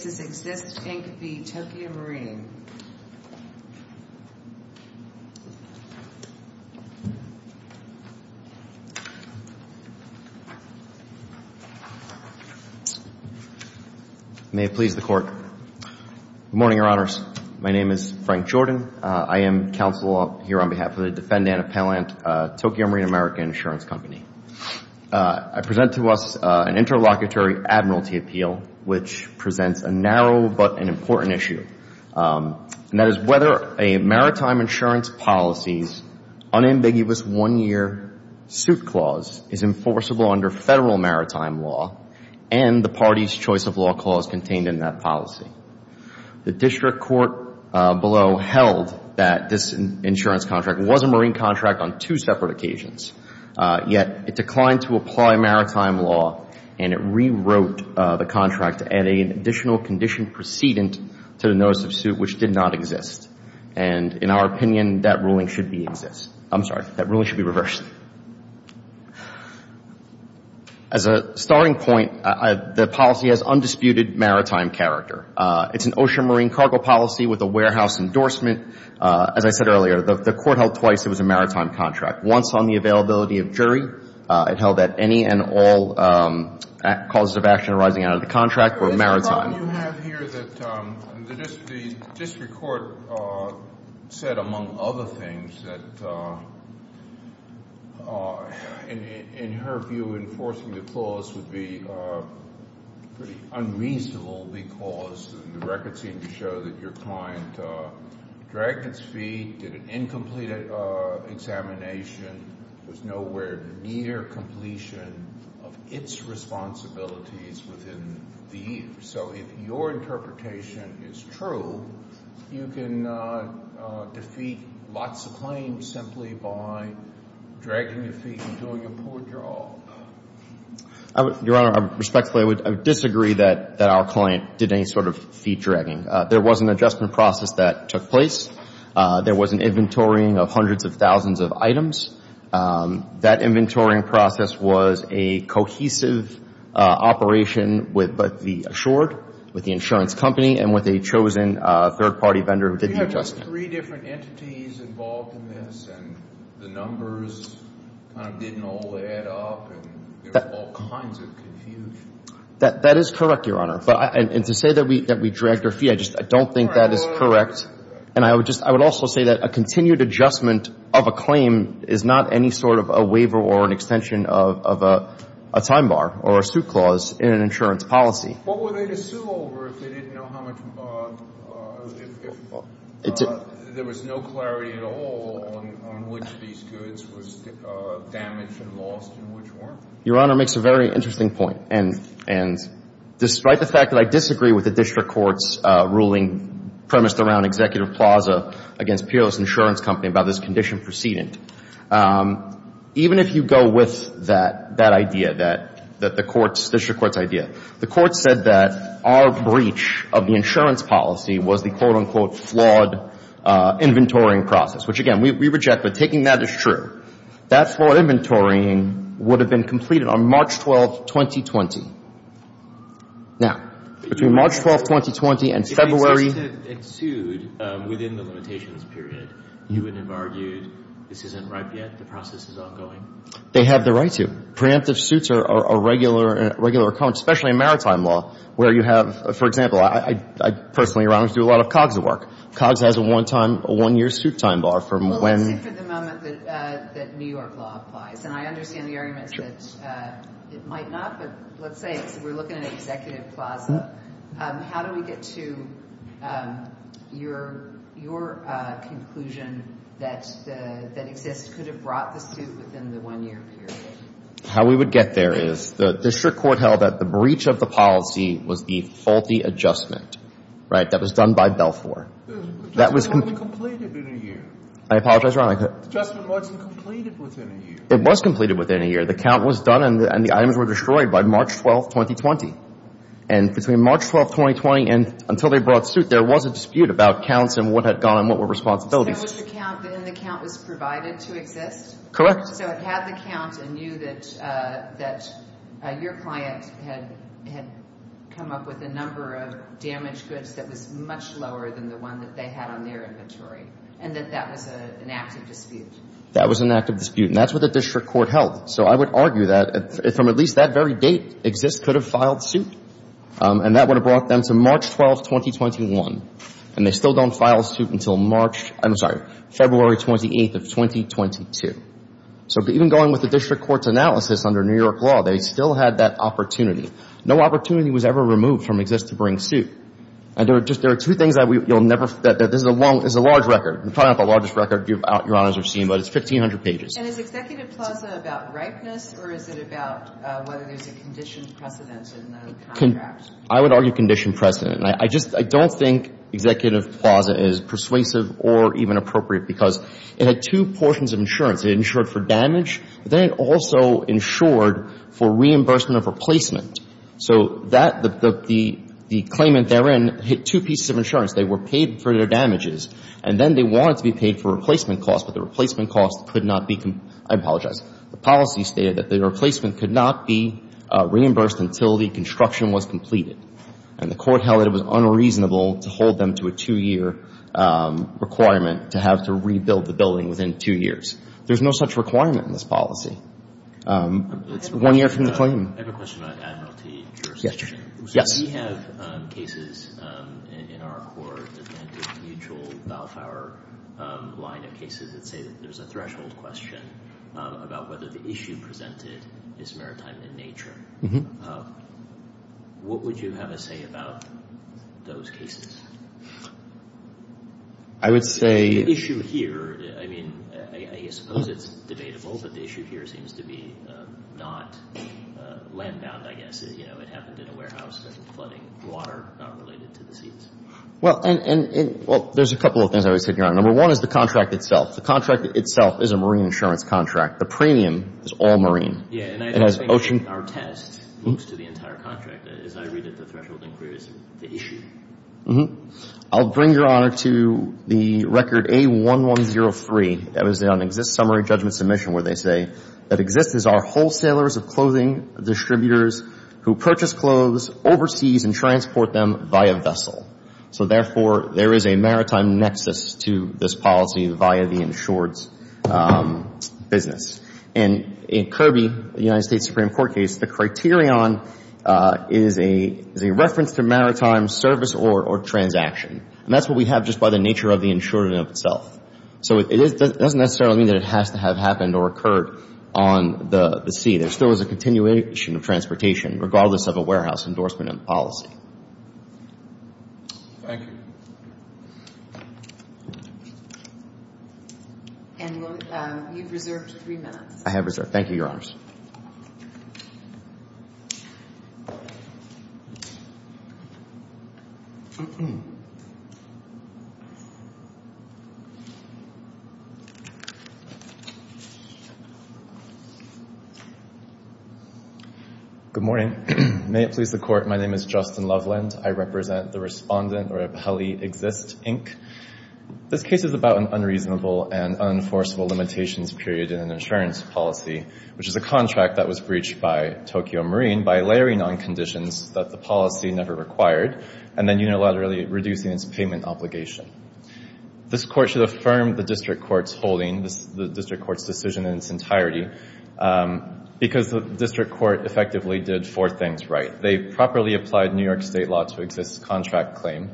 Good morning, Your Honors. My name is Frank Jordan. I am counsel here on behalf of the defendant appellant, Tokio Marine America Insurance Company. I present to us an interlocutory admiralty appeal which presents a narrow but an important issue, and that is whether a maritime insurance policy's unambiguous one-year suit clause is enforceable under federal maritime law and the party's choice of law clause contained in that policy. The district court below held that this insurance contract was a marine contract on two separate occasions. Yet, it declined to apply maritime law and it rewrote the contract to add an additional condition precedent to the notice of suit which did not exist. And in our opinion, that ruling should be reversed. As a starting point, the policy has undisputed maritime character. It's an ocean marine cargo policy with a warehouse endorsement. As I said earlier, the court held twice it was a maritime contract. Once on the availability of jury, it held that any and all causes of action arising out of the contract were maritime. The problem you have here that the district court said, among other things, that in her view, enforcing the clause would be pretty unreasonable because the records seem to show that your client dragged its feet, did an incomplete examination, was nowhere near completion of its responsibilities within the year. So if your interpretation is true, you can defeat lots of claims simply by dragging your feet and doing a poor job. Your Honor, respectfully, I would disagree that our client did any sort of feet dragging. There was an adjustment process that took place. There was an inventorying of hundreds of thousands of items. That inventorying process was a cohesive operation with both the Assured, with the insurance company, and with a chosen third-party vendor who did the adjustment. Do you have three different entities involved in this and the numbers kind of didn't all add up and there was all kinds of confusion? That is correct, Your Honor. And to say that we dragged her feet, I just don't think that is correct. And I would also say that a continued adjustment of a claim is not any sort of a waiver or an extension of a time bar or a suit clause in an insurance policy. What were they to sue over if they didn't know how much, if there was no clarity at all on which of these goods was damaged and lost and which weren't? Your Honor makes a very interesting point. And despite the fact that I disagree with the district court's ruling premised around Executive Plaza against Peerless Insurance Company about this condition preceding, even if you go with that idea, that the court's, district court's idea, the court said that our breach of the insurance policy was the, quote, unquote, flawed inventorying process, which, again, we reject, but taking that as true, that inventorying would have been completed on March 12th, 2020. Now, between March 12th, 2020 and February... If they insisted it sued within the limitations period, you would have argued this isn't ripe yet, the process is ongoing? They have the right to. Preemptive suits are a regular, especially in maritime law, where you have, for example, I personally, Your Honor, do a lot of COGS work. COGS has a one-time, a one-year suit time bar from when... Let's say for the moment that New York law applies. And I understand the argument that it might not, but let's say we're looking at Executive Plaza. How do we get to your conclusion that Exist could have brought the suit within the one-year period? How we would get there is the district court held that the breach of the policy was the faulty adjustment, right? That was done by Belfour. That was... Completed within a year. I apologize, Your Honor. Adjustment wasn't completed within a year. It was completed within a year. The count was done and the items were destroyed by March 12th, 2020. And between March 12th, 2020 and until they brought suit, there was a dispute about counts and what had gone and what were responsibilities. So it was the count, then the count was provided to Exist? Correct. So it had the count and knew that your client had come up with a number of damaged goods that was much lower than the one that they had on their inventory and that that was an active dispute? That was an active dispute and that's what the district court held. So I would argue that from at least that very date, Exist could have filed suit and that would have brought them to March 12th, 2021. And they still don't file suit until March... I'm sorry, February 28th of 2022. So even going with the district court's analysis under New York law, they still had that opportunity. No opportunity was ever removed from Exist to bring suit. And there are two things that you'll never... This is a large record. It's probably not the largest record Your Honor has ever seen, but it's 1,500 pages. And is Executive Plaza about ripeness or is it about whether there's a condition precedent in the contract? I would argue condition precedent. I just don't think Executive Plaza is persuasive or even appropriate because it had two portions of insurance. It insured for damage, but then it also insured for reimbursement of replacement. So the claimant therein had two pieces of insurance. They were paid for their damages, and then they wanted to be paid for replacement costs, but the replacement costs could not be... I apologize. The policy stated that the replacement could not be reimbursed until the construction was completed. And the court held that it was unreasonable to hold them to a two-year requirement to have to rebuild the building within two years. There's no such requirement in this policy. It's one year from the claim. I have a question about admiralty jurisdiction. Yes. We have cases in our court, anti-mutual, Balfour line of cases, that say that there's a threshold question about whether the issue presented is maritime in nature. What would you have to say about those cases? I would say... The issue here, I mean, I suppose it's debatable, but the issue here seems to be not land-bound, I guess. You know, it happened in a warehouse that was flooding water, not related to the seas. Well, there's a couple of things I was hitting on. Number one is the contract itself. The contract itself is a marine insurance contract. The premium is all marine. Yeah, and I think our test looks to the entire contract. As I read it, the threshold inquiry is the issue. I'll bring Your Honor to the record A1103. That was on an Exist Summary Judgment Submission where they say that Exist is our wholesalers of clothing, distributors who purchase clothes overseas and transport them via vessel. So therefore, there is a maritime nexus to this policy via the insured's business. And in Kirby, the United States Supreme Court case, the criterion is a reference to maritime service or transaction. And that's what we have just by the nature of the insured in itself. So it doesn't necessarily mean that it has to have happened or occurred on the sea. There still is a continuation of transportation, regardless of a warehouse endorsement and policy. Thank you. And you've reserved three minutes. I have reserved. Thank you, Your Honors. Good morning. May it please the Court. My name is Justin Loveland. I represent the respondent or appellee Exist, Inc. This case is about an unreasonable and unenforceable limitations period in an insurance policy, which is a contract that was breached by Tokyo Marine by layering on conditions that the policy never required and then unilaterally reducing its payment obligation. This Court should have filed this case and confirmed the District Court's holding, the District Court's decision in its entirety, because the District Court effectively did four things right. They properly applied New York State law to Exist's contract claim.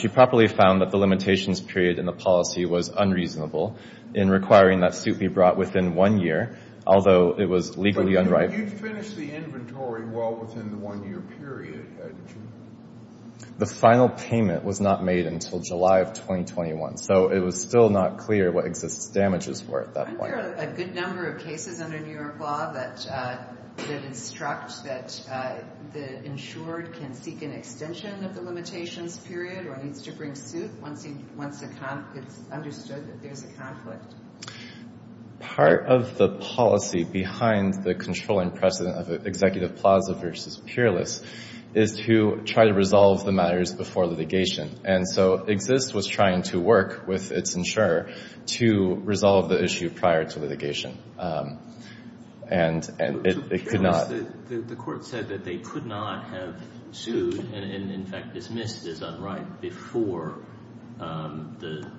She properly found that the limitations period in the policy was unreasonable in requiring that suit be brought within one year, although it was legally unrighteous. But you'd finish the inventory well within the one-year period, hadn't you? The final payment was not made until July of 2021. So it was still not clear what Exist's damages were at that point. Aren't there a good number of cases under New York law that instruct that the insured can seek an extension of the limitations period or needs to bring suit once it's understood that there's a conflict? Part of the policy behind the controlling precedent of executive plaza versus peerless is to try to resolve the matters before litigation. And so Exist was trying to work with its insurer to resolve the issue prior to litigation. The court said that they could not have sued and in fact dismissed as unright before the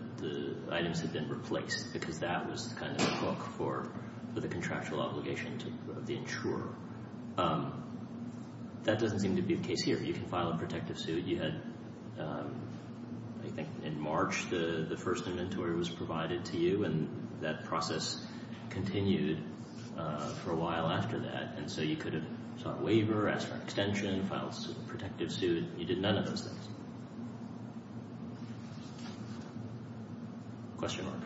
items had been replaced because that was kind of the book for the contractual obligation of the insurer. That doesn't seem to be the case here. You can file a protective suit. You had, I think in March, the first inventory was provided to you and that process continued for a while after that. And so you could have sought a waiver, asked for an extension, filed a protective suit. You did none of those things. Question mark.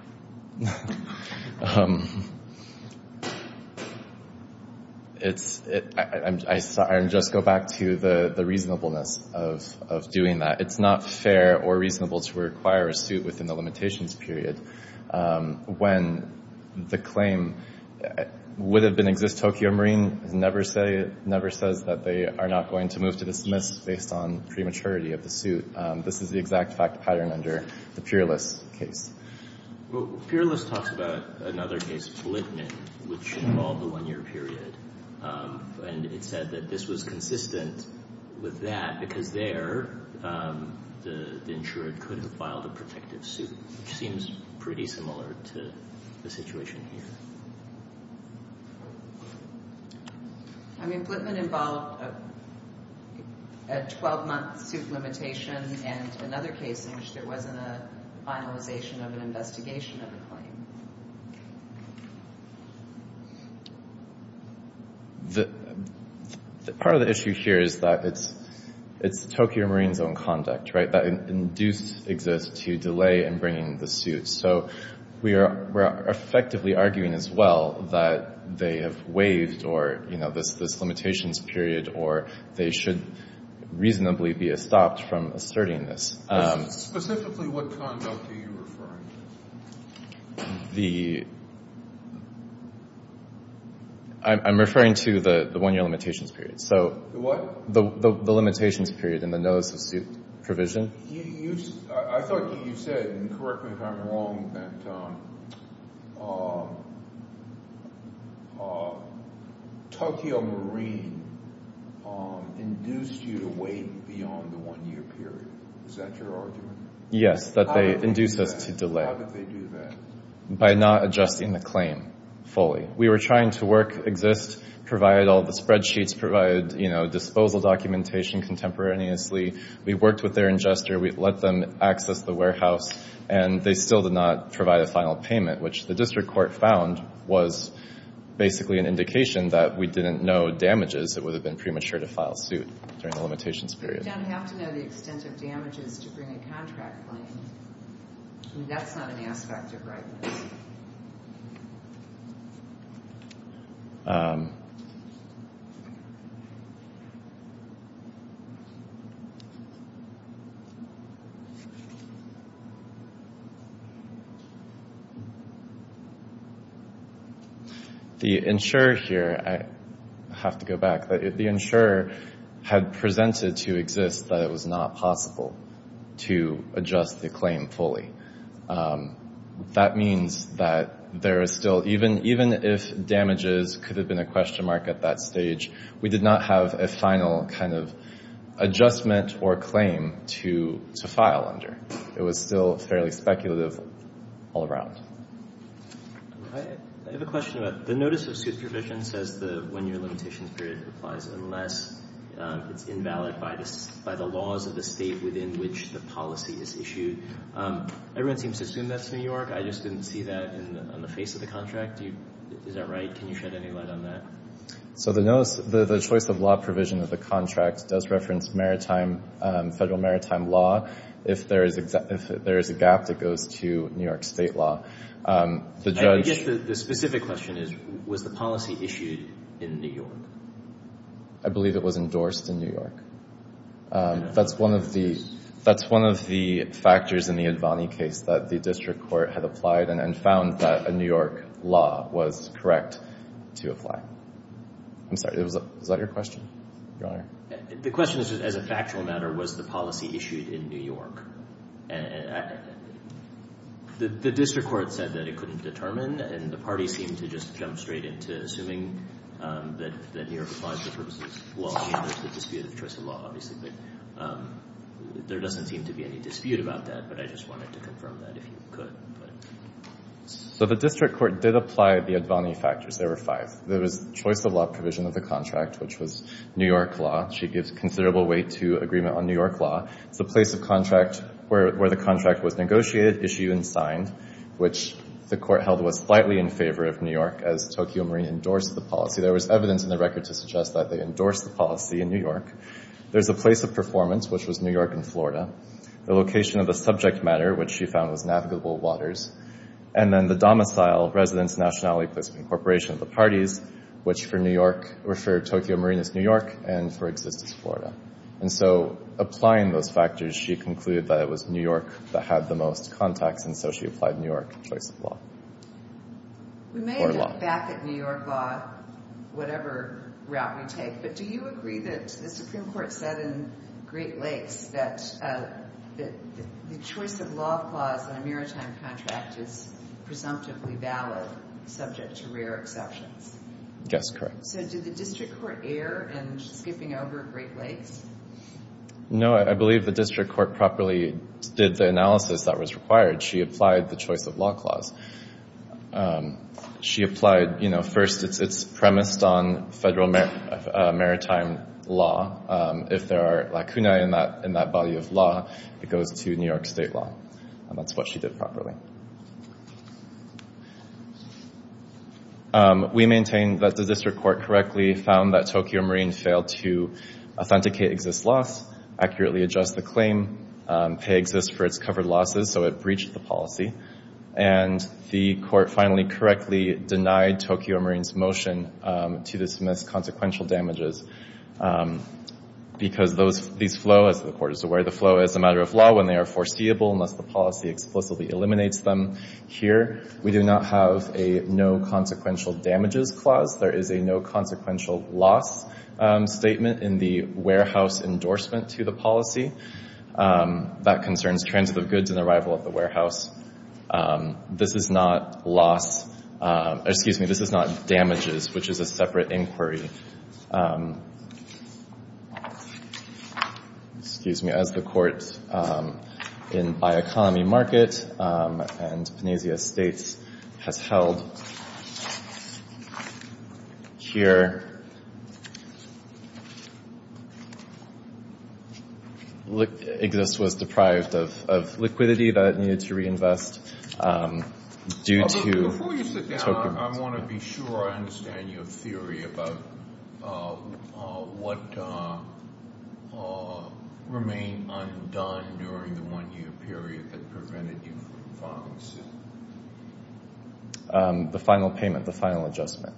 I'm sorry, I'll just go back to the reasonableness of doing that. It's not fair or reasonable to require a suit within the limitations period when the claim would have been Exist-Tokyo Marine never says that they are not going to move to dismiss based on prematurity of the suit. This is the exact fact pattern under the peerless case. Peerless talks about another case, Blitman, which involved a one-year period. And it said that this was consistent with that because there the insurer could have filed a protective suit, which seems pretty similar to the situation here. Blitman involved a 12-month suit limitation and another case in which there wasn't a finalization of an investigation of the claim. Part of the issue here is that it's Tokyo Marine's own conduct, right? That induced Exist to delay in bringing the suit. So we're effectively arguing as well that they have waived this limitations period or they should reasonably be stopped from asserting this. Specifically, what conduct are you referring to? I'm referring to the one-year limitations period. The what? The limitations period in the notice of suit provision. I thought you said, and correct me if I'm wrong, that Tokyo Marine induced you to wait beyond the one-year period. Is that your argument? Yes, that they induced us to delay. How did they do that? By not adjusting the claim fully. We were trying to work Exist, provide all the spreadsheets, provide disposal documentation contemporaneously. We worked with their ingester. We let them access the warehouse. And they still did not provide a final payment, which the district court found was basically an indication that we didn't know damages that would have been premature to file suit during the limitations period. You don't have to know the extent of damages to bring a contract claim. That's not an aspect of rightness. The insurer here, I have to go back, the insurer had presented to Exist that it was not possible to adjust the claim fully. That means that there is still, even if damages could have been a question mark at that stage, we did not have a final kind of adjustment or claim to file under. It was still fairly speculative all around. I have a question about, the notice of suit provision says the one-year limitations period applies unless it's invalid by the laws of the state within which the policy is issued. Everyone seems to assume that's New York. I just didn't see that on the face of the contract. Is that right? Can you shed any light on that? So the notice, the choice of law provision of the contract does reference federal maritime law if there is a gap that goes to New York state law. I guess the specific question is, was the policy issued in New York? I believe it was endorsed in New York. That's one of the factors in the Advani case that the district court had applied and found that a New York law was correct to apply. I'm sorry, was that your question, Your Honor? The question is, as a factual matter, was the policy issued in New York? The district court said that it couldn't determine and the party seemed to just jump straight into assuming that New York applied for purposes of law and there's the dispute of choice of law, obviously, but there doesn't seem to be any dispute about that, but I just wanted to confirm that if you could. So the district court did apply the Advani factors. There were five. There was choice of law provision of the contract, which was New York law. She gives considerable weight to agreement on New York law. It's the place of contract where the contract was negotiated, issued, and signed, which the court held was slightly in favor of New York as Tokyo Marine endorsed the policy. There was evidence in the record to suggest that they endorsed the policy in New York. There's a place of performance, which was New York and Florida. The location of the subject matter, which she found was navigable waters. And then the domicile, residence, nationality, placement, and incorporation of the parties, which for Tokyo Marine is New York and for Exist is Florida. And so applying those factors, she concluded that it was New York that had the most contacts and so she applied New York choice of law. We may look back at New York law, whatever route we take, but do you agree that the Supreme Court said in Great Lakes that the choice of law clause in a maritime contract is presumptively valid subject to rare exceptions? Yes, correct. So did the district court err in skipping over Great Lakes? No, I believe the district court properly did the analysis that was required. She applied the choice of law clause. She applied, you know, first it's premised on federal maritime law. If there are lacunae in that body of law, it goes to New York state law. And that's what she did properly. We maintain that the district court correctly found that Tokyo Marine failed to authenticate Exist's loss, accurately adjust the claim, pay Exist for its covered losses, so it breached the policy, and the court finally correctly denied Tokyo Marine's motion to dismiss consequential damages because these flow, as the court is aware, the flow is a matter of law when they are foreseeable unless the policy explicitly eliminates them. Here, we do not have a no consequential damages clause. There is a no consequential loss statement in the warehouse endorsement to the policy that concerns transit of goods and arrival of the warehouse. This is not loss, excuse me, this is not damages, which is a separate inquiry. Excuse me, as the court in by economy market and Panacea States has held here, Exist was deprived of liquidity that it needed to reinvest due to Tokyo Marine's claim. Before you sit down, I want to be sure I understand your theory about what remained undone during the one-year period that prevented you from filing suit. The final payment, the final adjustment.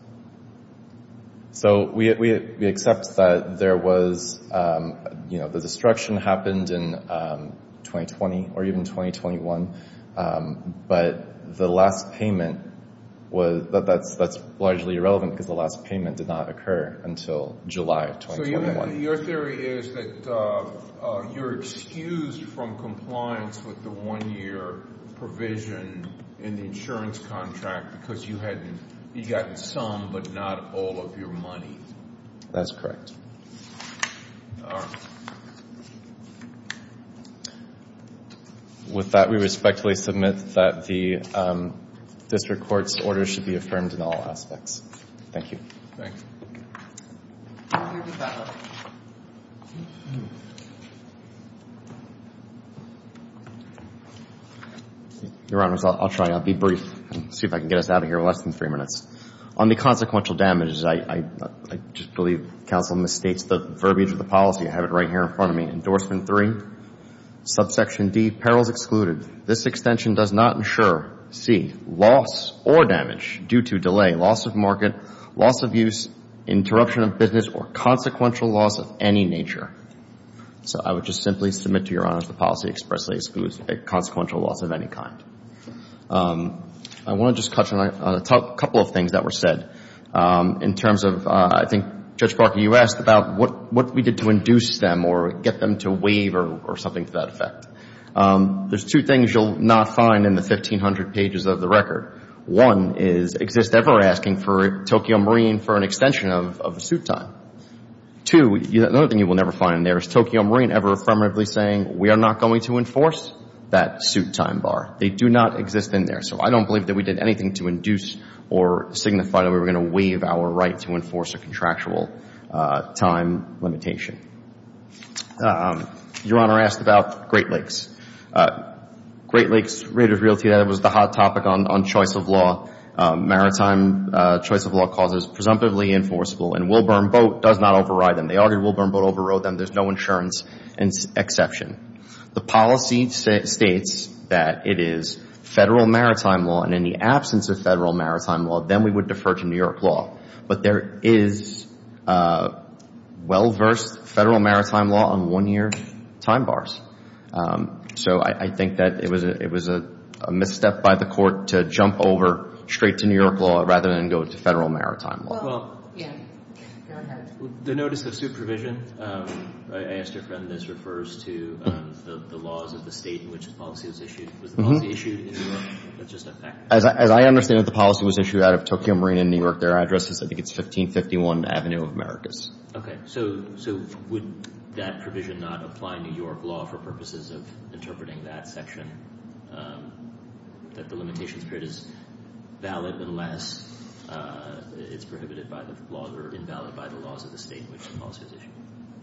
So, we have, we accept that there was, you know, the destruction happened in 2020 or even 2021, but the last payment was, that's largely irrelevant because the last payment did not occur until July of 2021. So, your theory is that you're excused from compliance with the one-year provision in the insurance contract because you hadn't, you got some, but not all of your money. That's correct. With that, we respectfully submit that the district court's order should be affirmed in all aspects. Thank you. Thank you. Your Honor, I'll try, I'll be brief and see if I can get us out of here in less than three minutes. On the consequential damages, I just believe counsel misstates the verbiage of the policy. I have it right here in front of me. Endorsement three, subsection D, perils excluded. This extension does not insure C, loss or damage due to delay, loss of market, loss of use, interruption of business or consequential loss of any nature. So, I would just simply submit to your Honor that the policy expressly excludes a consequential loss of any kind. I want to just touch on a couple of things that were said. In terms of, I think, Judge Barker, you asked about what we did to induce them or get them to waive or something to that effect. There's two things you'll not find in the 1,500 pages of the record. One is Exist Ever asking for Tokyo Marine for an extension of the suit time. Two, the other thing you will never find in there is Tokyo Marine ever affirmatively saying we are not going to enforce that suit time bar. They do not exist in there. So, I don't believe that we did anything to induce or signify that we were going to waive our right to enforce a contractual time limitation. Your Honor asked about Great Lakes. Great Lakes, Raiders Realty, that was the hot topic on choice of law. Maritime choice of law causes presumptively enforceable and Wilburn Boat does not override them. They argued Wilburn Boat overrode them. There's no insurance exception. The policy states that it is Federal maritime law and in the absence of Federal maritime law then we would defer to New York law. But there is well versed Federal maritime law on one year time bars. So, I think that it was a misstep by the court to jump over straight to New York law rather than go to Federal maritime law. The notice of supervision I asked your friend this refers to the laws of the state in which the policy was issued. As I understand that the policy was issued out of Tokyo Marina in New York their address is I think it's 1551 Avenue of Americas. Okay. So, would that provision not apply New York law for purposes of interpreting that section that the limitations period is valid unless it's prohibited by the laws or invalid by the laws of the state in which the policy is valid. I think go to Federal maritime law rather than go to Federal maritime law rather than go to New York law rather than go to Federal maritime law rather than go to is the provisions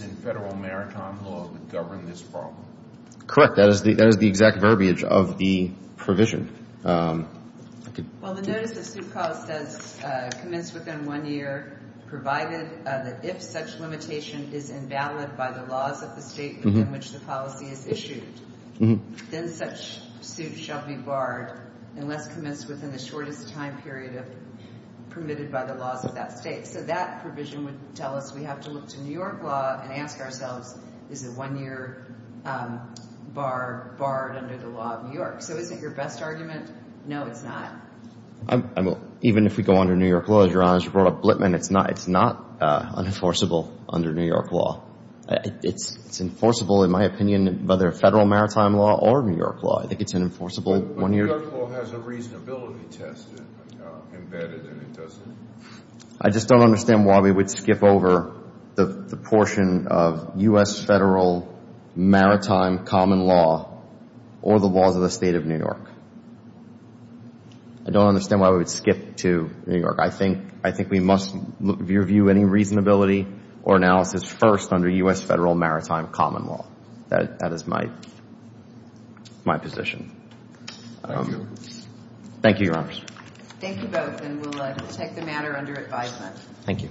in Federal maritime law govern this problem. Correct. That is the exact verbiage of the provision. Well, the notice of suit clause says commenced within one year provided that if such limitation is invalid by the laws of the state in which the policy is issued then such suit shall be barred unless commenced within the shortest time period permitted by the of that state. So that provision would tell us we have to look to New York law and ask ourselves is it one year barred under the of New York law? But New York law has a reasonability test embedded in it, doesn't it? I just don't understand why we would skip over the portion of maritime common law or the laws of the of New York law? I don't know. Thank you. Thank you both and we'll take the matter under advisement. Thank you.